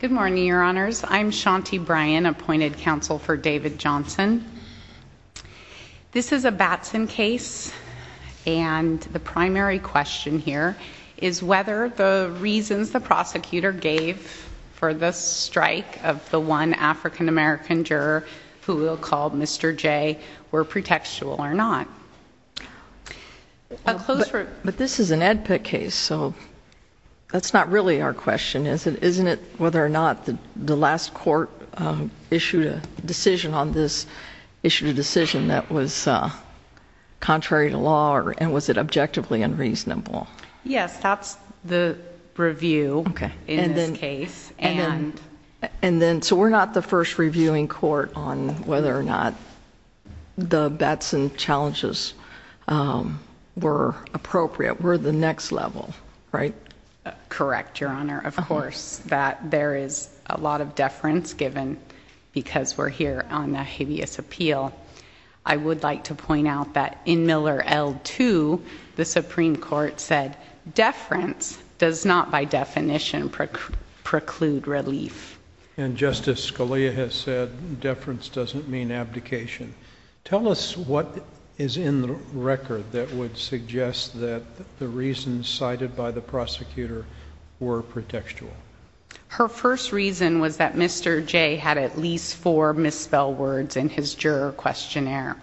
Good morning, your honors. I'm Shanti Bryan, appointed counsel for David Johnson. This is a Batson case, and the primary question here is whether the reasons the prosecutor gave for the strike of the one African-American juror who we'll call Mr. J were pretextual or not. But this is an Ed Pitt case, so that's not really our question, is it? Isn't it whether or not the last court issued a decision on this, issued a decision that was contrary to law, and was it objectively unreasonable? Yes, that's the review in this case. So we're not the first reviewing court on whether or not the Batson challenges were appropriate. We're the next level, right? Correct, your honor. Of course, there is a lot of deference given because we're here on a habeas appeal. I would like to point out that in Miller L2, the Supreme Court said deference does not by definition preclude relief. And Justice Scalia has said deference doesn't mean abdication. Tell us what is in the record that would suggest that the reasons cited by the prosecutor were pretextual. Her first reason was that Mr. J had at least four misspelled words in his juror questionnaire.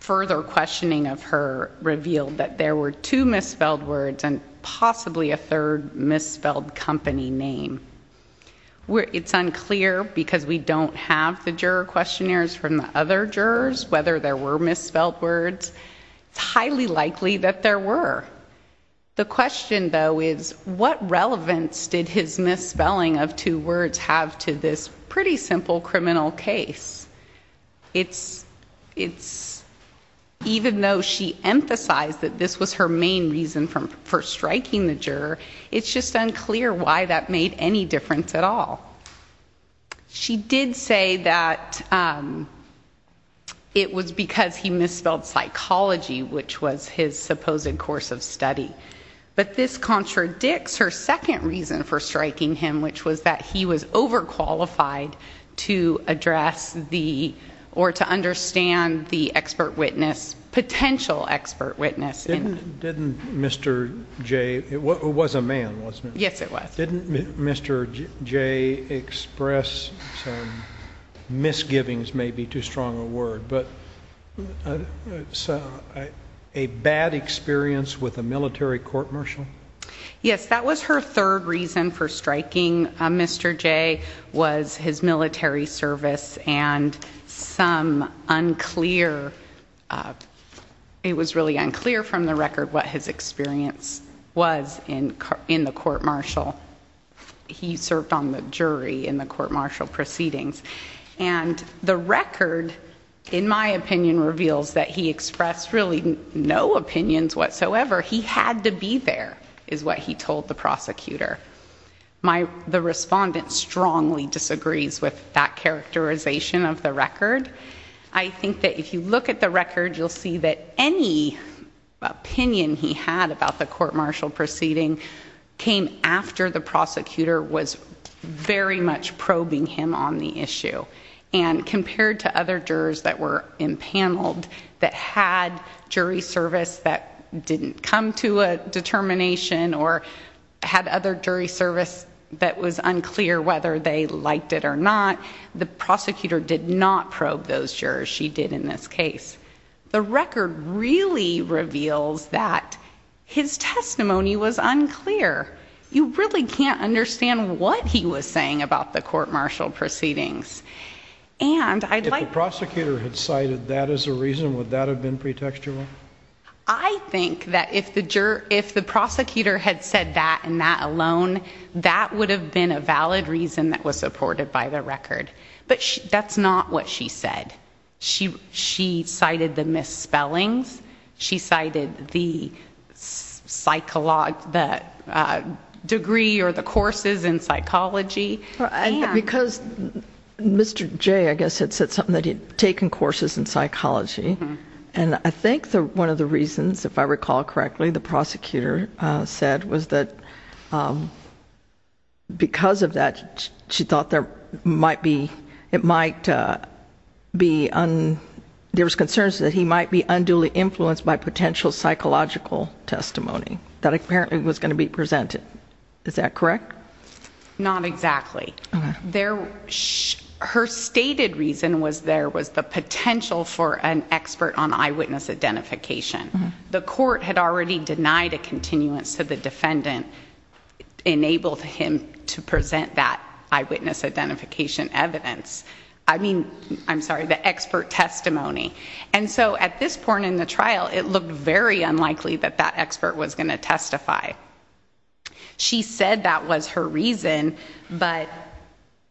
Further questioning of her revealed that there were two misspelled words and possibly a third misspelled company name. It's unclear because we don't have the juror questionnaires from the other jurors whether there were misspelled words. It's highly likely that there were. The question, though, is what relevance did his misspelling of two words have to this pretty simple criminal case? Even though she emphasized that this was her main reason for striking the juror, it's just unclear why that made any difference at all. She did say that it was because he misspelled psychology, which was his supposed course of study. But this contradicts her second reason for striking him, which was that he was overqualified to address the or to understand the expert witness, potential expert witness. Didn't Mr. J, it was a man, wasn't it? Yes, it was. Didn't Mr. J express some misgivings, maybe too strong a word, but a bad experience with a military court-martial? Yes, that was her third reason for striking Mr. J was his military service and some unclear, it was really unclear from the record what his experience was in the court-martial. He served on the jury in the court-martial proceedings. And the record, in my opinion, reveals that he expressed really no opinions whatsoever. He had to be there, is what he told the prosecutor. The respondent strongly disagrees with that characterization of the record. I think that if you look at the record, you'll see that any opinion he had about the court-martial proceeding came after the prosecutor was very much probing him on the issue. And compared to other jurors that were impaneled that had jury service that didn't come to a determination or had other jury service that was unclear whether they liked it or not, the prosecutor did not probe those jurors, she did in this case. The record really reveals that his testimony was unclear. You really can't understand what he was saying about the court-martial proceedings. If the prosecutor had cited that as a reason, would that have been pretextual? I think that if the prosecutor had said that and that alone, that would have been a valid reason that was supported by the record. But that's not what she said. She cited the misspellings. She cited the degree or the courses in psychology. Because Mr. J, I guess, had said something that he had taken courses in psychology. And I think one of the reasons, if I recall correctly, the prosecutor said was that because of that, she thought there might be, it might be, there was concerns that he might be unduly influenced by potential psychological testimony. That apparently was going to be presented. Is that correct? Not exactly. Her stated reason was there was the potential for an expert on eyewitness identification. The court had already denied a continuance to the defendant, enabled him to present that eyewitness identification evidence. I mean, I'm sorry, the expert testimony. And so at this point in the trial, it looked very unlikely that that expert was going to testify. She said that was her reason, but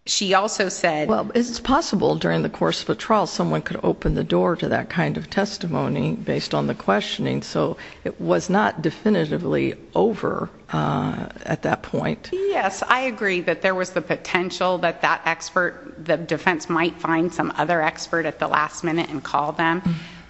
she also said. Well, it's possible during the course of a trial, someone could open the door to that kind of testimony based on the questioning. So it was not definitively over at that point. Yes, I agree that there was the potential that that expert, the defense might find some other expert at the last minute and call them.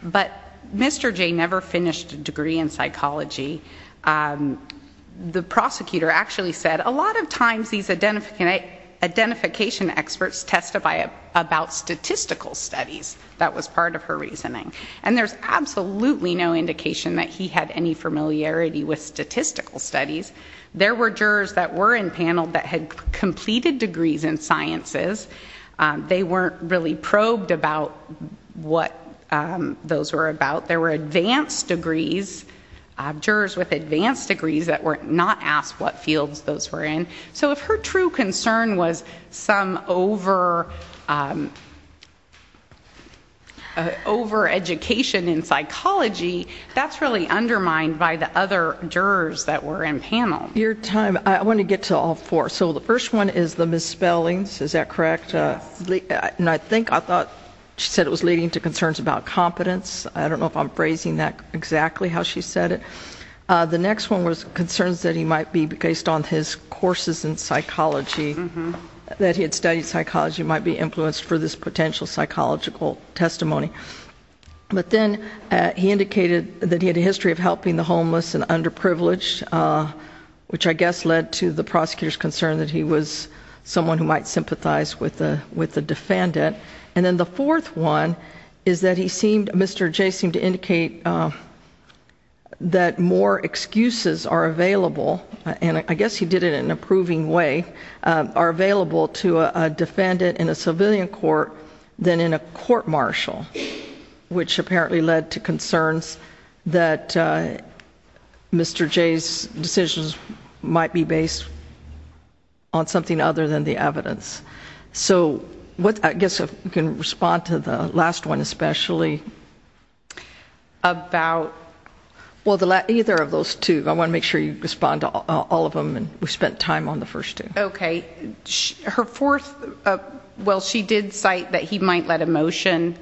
But Mr. J never finished a degree in psychology. The prosecutor actually said a lot of times these identification experts testify about statistical studies. That was part of her reasoning. And there's absolutely no indication that he had any familiarity with statistical studies. There were jurors that were in panel that had completed degrees in sciences. They weren't really probed about what those were about. There were advanced degrees, jurors with advanced degrees that were not asked what fields those were in. So if her true concern was some over education in psychology, that's really undermined by the other jurors that were in panel. Your time. I want to get to all four. So the first one is the misspellings. Is that correct? I think I thought she said it was leading to concerns about competence. I don't know if I'm phrasing that exactly how she said it. The next one was concerns that he might be based on his courses in psychology, that he had studied psychology might be influenced for this potential psychological testimony. But then he indicated that he had a history of helping the homeless and underprivileged, which I guess led to the prosecutor's concern that he was someone who might sympathize with the defendant. And then the fourth one is that Mr. J seemed to indicate that more excuses are available, and I guess he did it in a proving way, are available to a defendant in a civilian court than in a court martial, which apparently led to concerns that Mr. J's decisions might be based on something other than the evidence. So I guess if we can respond to the last one especially. About? Well, either of those two. I want to make sure you respond to all of them, and we spent time on the first two. Okay. Her fourth, well, she did cite that he might let emotion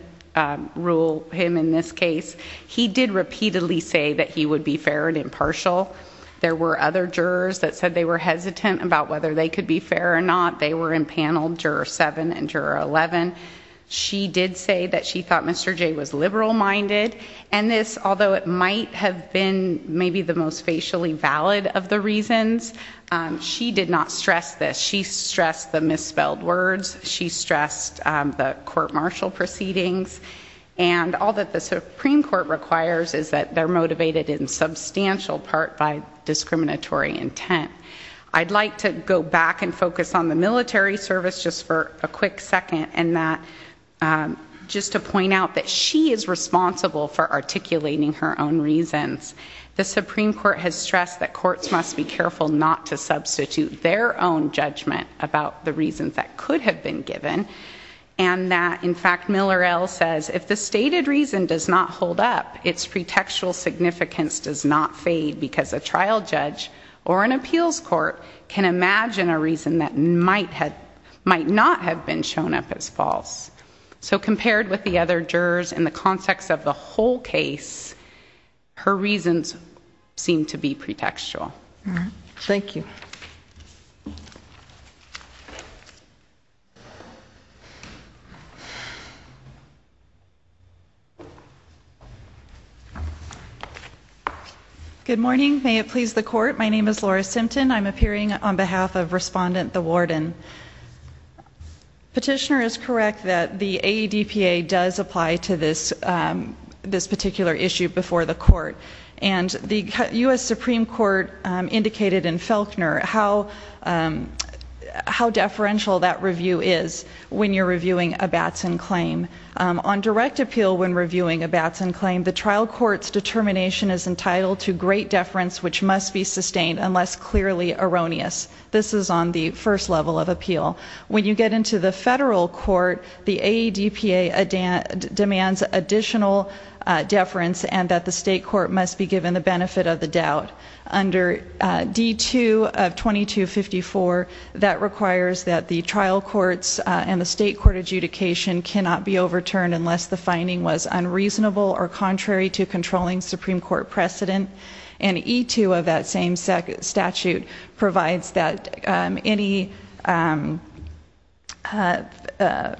rule him in this case. He did repeatedly say that he would be fair and impartial. There were other jurors that said they were hesitant about whether they could be fair or not. They were in Panel Juror 7 and Juror 11. She did say that she thought Mr. J was liberal-minded, and this, although it might have been maybe the most facially valid of the reasons, she did not stress this. She stressed the misspelled words. She stressed the court martial proceedings. And all that the Supreme Court requires is that they're motivated in substantial part by discriminatory intent. I'd like to go back and focus on the military service just for a quick second and that just to point out that she is responsible for articulating her own reasons. The Supreme Court has stressed that courts must be careful not to substitute their own judgment about the reasons that could have been given and that, in fact, Miller L says, if the stated reason does not hold up, its pretextual significance does not fade because a trial judge or an appeals court can imagine a reason that might not have been shown up as false. So compared with the other jurors in the context of the whole case, her reasons seem to be pretextual. All right. Thank you. Thank you. Good morning. May it please the court. My name is Laura Simpton. I'm appearing on behalf of Respondent Thawarden. Petitioner is correct that the AEDPA does apply to this particular issue before the court. And the U.S. Supreme Court indicated in Falconer how deferential that review is when you're reviewing a Batson claim. On direct appeal when reviewing a Batson claim, the trial court's determination is entitled to great deference which must be sustained unless clearly erroneous. This is on the first level of appeal. When you get into the federal court, the AEDPA demands additional deference and that the state court must be given the benefit of the doubt. Under D2 of 2254, that requires that the trial courts and the state court adjudication cannot be overturned unless the finding was unreasonable or contrary to controlling Supreme Court precedent. And E2 of that same statute provides that any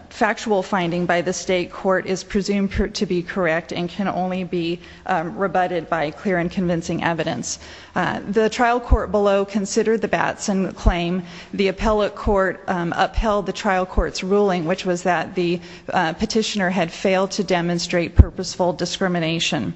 factual finding by the state court is presumed to be correct and can only be rebutted by clear and convincing evidence. The trial court below considered the Batson claim. The appellate court upheld the trial court's ruling which was that the petitioner had failed to demonstrate purposeful discrimination.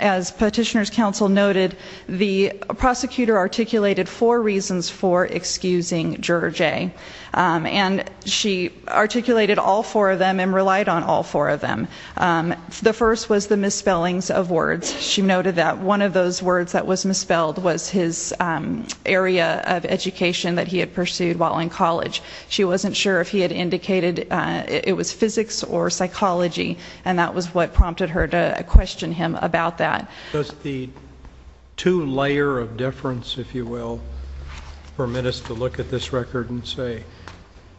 As petitioner's counsel noted, the prosecutor articulated four reasons for excusing Juror J. And she articulated all four of them and relied on all four of them. The first was the misspellings of words. She noted that one of those words that was misspelled was his area of education that he had pursued while in college. She wasn't sure if he had indicated it was physics or psychology, and that was what prompted her to question him about that. Does the two layer of deference, if you will, permit us to look at this record and say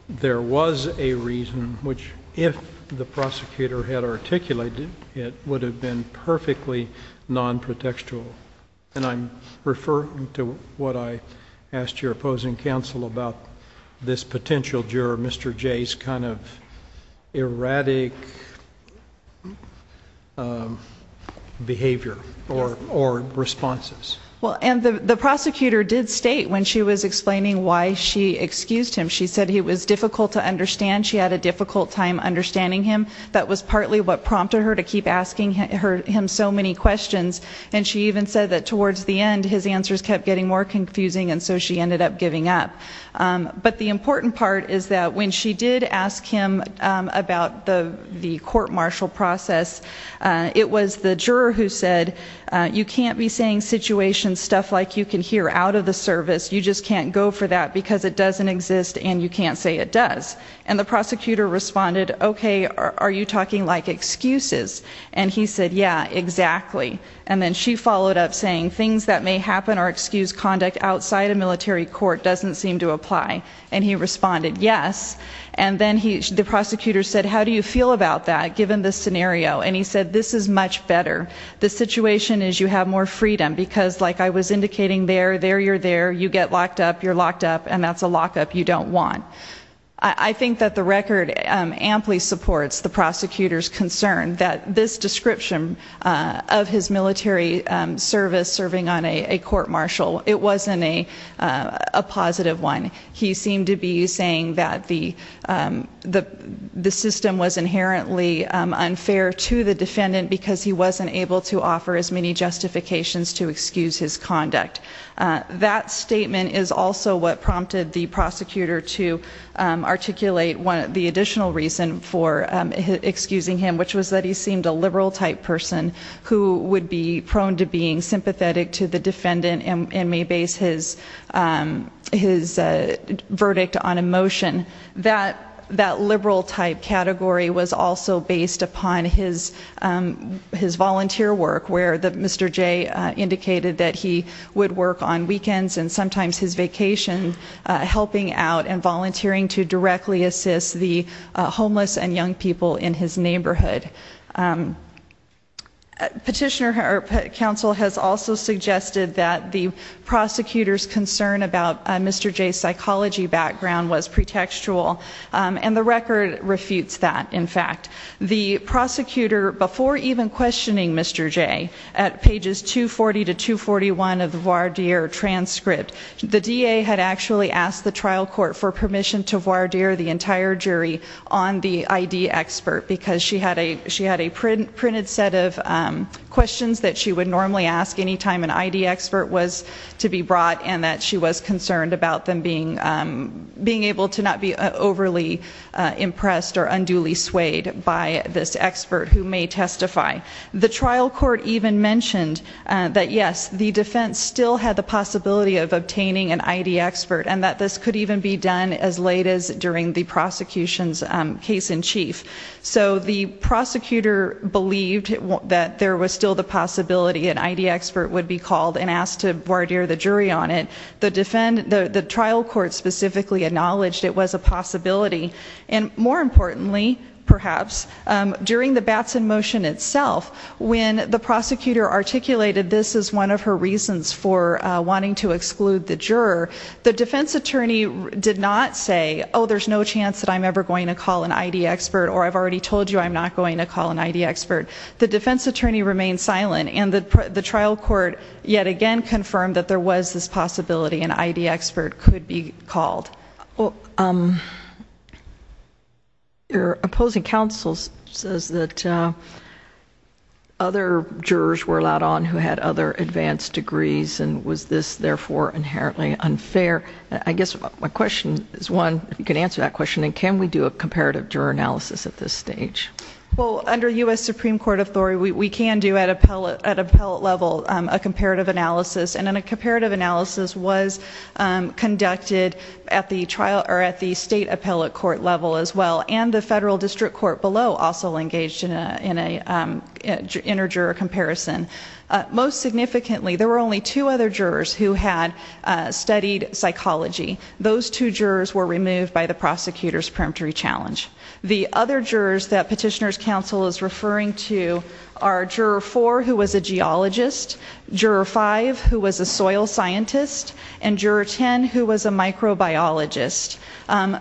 there was a reason which if the prosecutor had articulated, it would have been perfectly non-protextual? And I'm referring to what I asked your opposing counsel about this potential juror, Mr. J.'s kind of erratic behavior or responses. Well, and the prosecutor did state when she was explaining why she excused him, she said it was difficult to understand. She had a difficult time understanding him. That was partly what prompted her to keep asking him so many questions. And she even said that towards the end, his answers kept getting more confusing, and so she ended up giving up. But the important part is that when she did ask him about the court-martial process, it was the juror who said, you can't be saying situation stuff like you can hear out of the service. You just can't go for that because it doesn't exist and you can't say it does. And the prosecutor responded, okay, are you talking like excuses? And he said, yeah, exactly. And then she followed up saying things that may happen or excuse conduct outside a military court doesn't seem to apply. And he responded, yes. And then the prosecutor said, how do you feel about that given the scenario? And he said, this is much better. The situation is you have more freedom because like I was indicating there, there you're there, you get locked up, you're locked up, and that's a lockup you don't want. I think that the record amply supports the prosecutor's concern that this description of his military service serving on a court-martial, it wasn't a positive one. He seemed to be saying that the system was inherently unfair to the defendant because he wasn't able to offer as many justifications to excuse his conduct. That statement is also what prompted the prosecutor to articulate the additional reason for excusing him, which was that he seemed a liberal type person who would be prone to being sympathetic to the defendant and may base his verdict on emotion. That liberal type category was also based upon his volunteer work where Mr. J indicated that he would work on weekends and sometimes his vacation, helping out and volunteering to directly assist the homeless and young people in his neighborhood. Petitioner counsel has also suggested that the prosecutor's concern about Mr. J's psychology background was pretextual, and the record refutes that, in fact. The prosecutor, before even questioning Mr. J at pages 240 to 241 of the voir dire transcript, the DA had actually asked the trial court for permission to voir dire the entire jury on the ID expert because she had a printed set of questions that she would normally ask any time an ID expert was to be brought and that she was concerned about them being able to not be overly impressed or unduly swayed by this expert who may testify. The trial court even mentioned that, yes, the defense still had the possibility of obtaining an ID expert and that this could even be done as late as during the prosecution's case in chief. So the prosecutor believed that there was still the possibility an ID expert would be called and asked to voir dire the jury on it. The trial court specifically acknowledged it was a possibility. And more importantly, perhaps, during the Batson motion itself, when the prosecutor articulated this as one of her reasons for wanting to exclude the juror, the defense attorney did not say, oh, there's no chance that I'm ever going to call an ID expert or I've already told you I'm not going to call an ID expert. The defense attorney remained silent and the trial court yet again confirmed that there was this possibility an ID expert could be called. Your opposing counsel says that other jurors were allowed on who had other advanced degrees and was this, therefore, inherently unfair? I guess my question is one, if you can answer that question, and can we do a comparative juror analysis at this stage? Well, under U.S. Supreme Court authority, we can do at appellate level a comparative analysis, and a comparative analysis was conducted at the state appellate court level as well, and the federal district court below also engaged in an interjuror comparison. Most significantly, there were only two other jurors who had studied psychology. Those two jurors were removed by the prosecutor's preemptory challenge. The other jurors that Petitioner's Counsel is referring to are Juror 4, who was a geologist, Juror 5, who was a soil scientist, and Juror 10, who was a microbiologist.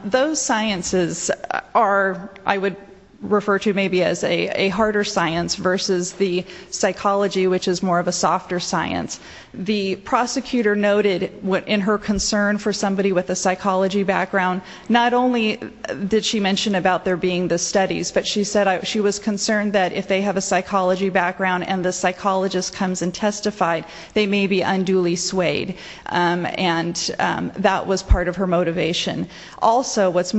Those sciences are, I would refer to maybe as a harder science versus the psychology, which is more of a softer science. The prosecutor noted in her concern for somebody with a psychology background, not only did she mention about there being the studies, but she said she was concerned that if they have a psychology background and the psychologist comes and testifies, they may be unduly swayed, and that was part of her motivation. Also, what's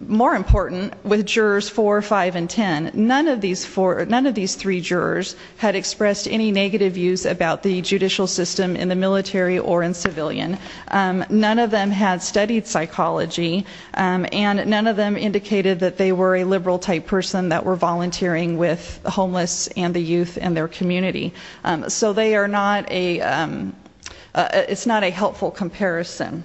more important, with Jurors 4, 5, and 10, none of these three jurors had expressed any negative views about the judicial system in the military or in civilian. None of them had studied psychology, and none of them indicated that they were a liberal-type person that were volunteering with the homeless and the youth and their community. So it's not a helpful comparison.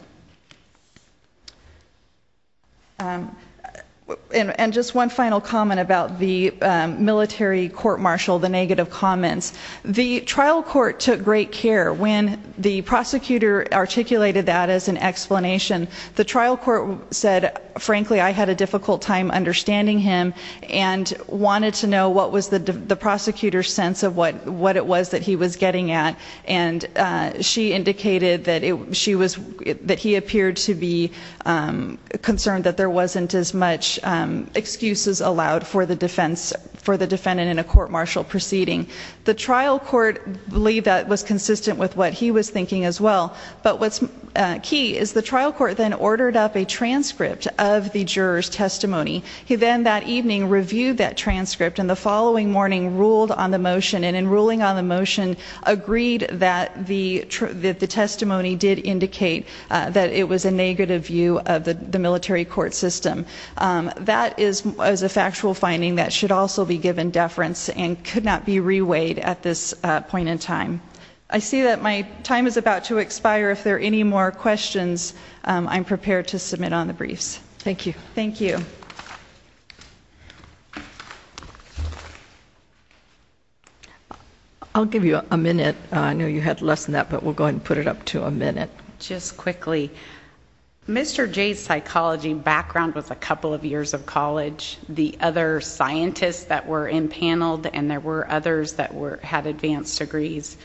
And just one final comment about the military court-martial, the negative comments. The trial court took great care. When the prosecutor articulated that as an explanation, the trial court said, frankly, I had a difficult time understanding him and wanted to know what was the prosecutor's sense of what it was that he was getting at, and she indicated that he appeared to be concerned that there wasn't as much excuses allowed for the defendant in a court-martial proceeding. The trial court believed that was consistent with what he was thinking as well, but what's key is the trial court then ordered up a transcript of the juror's testimony. He then that evening reviewed that transcript and the following morning ruled on the motion, and in ruling on the motion agreed that the testimony did indicate that it was a negative view of the military court system. That is a factual finding that should also be given deference and could not be reweighed at this point in time. I see that my time is about to expire. If there are any more questions, I'm prepared to submit on the briefs. Thank you. Thank you. I'll give you a minute. I know you had less than that, but we'll go ahead and put it up to a minute. Just quickly, Mr. J's psychology background was a couple of years of college. The other scientists that were impaneled, and there were others that had advanced degrees,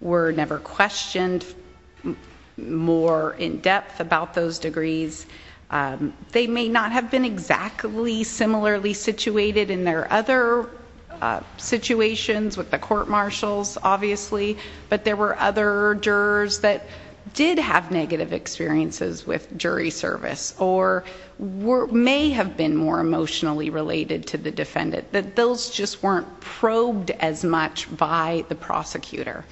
were never questioned more in depth about those degrees. They may not have been exactly similarly situated in their other situations with the court marshals, obviously, but there were other jurors that did have negative experiences with jury service or may have been more emotionally related to the defendant. Those just weren't probed as much by the prosecutor.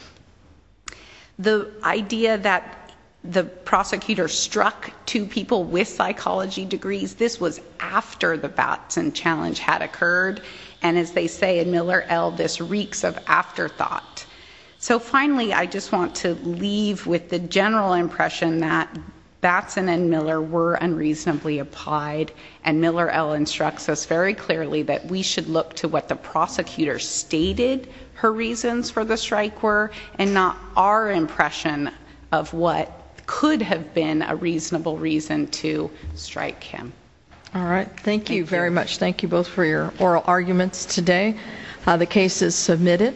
The idea that the prosecutor struck two people with psychology degrees, this was after the Batson challenge had occurred, and as they say in Miller-Ell, this reeks of afterthought. Finally, I just want to leave with the general impression that Batson and Miller were unreasonably applied, and Miller-Ell instructs us very clearly that we should look to what the prosecutor stated her reasons for the strike were and not our impression of what could have been a reasonable reason to strike him. All right. Thank you very much. Thank you both for your oral arguments today. The case is submitted.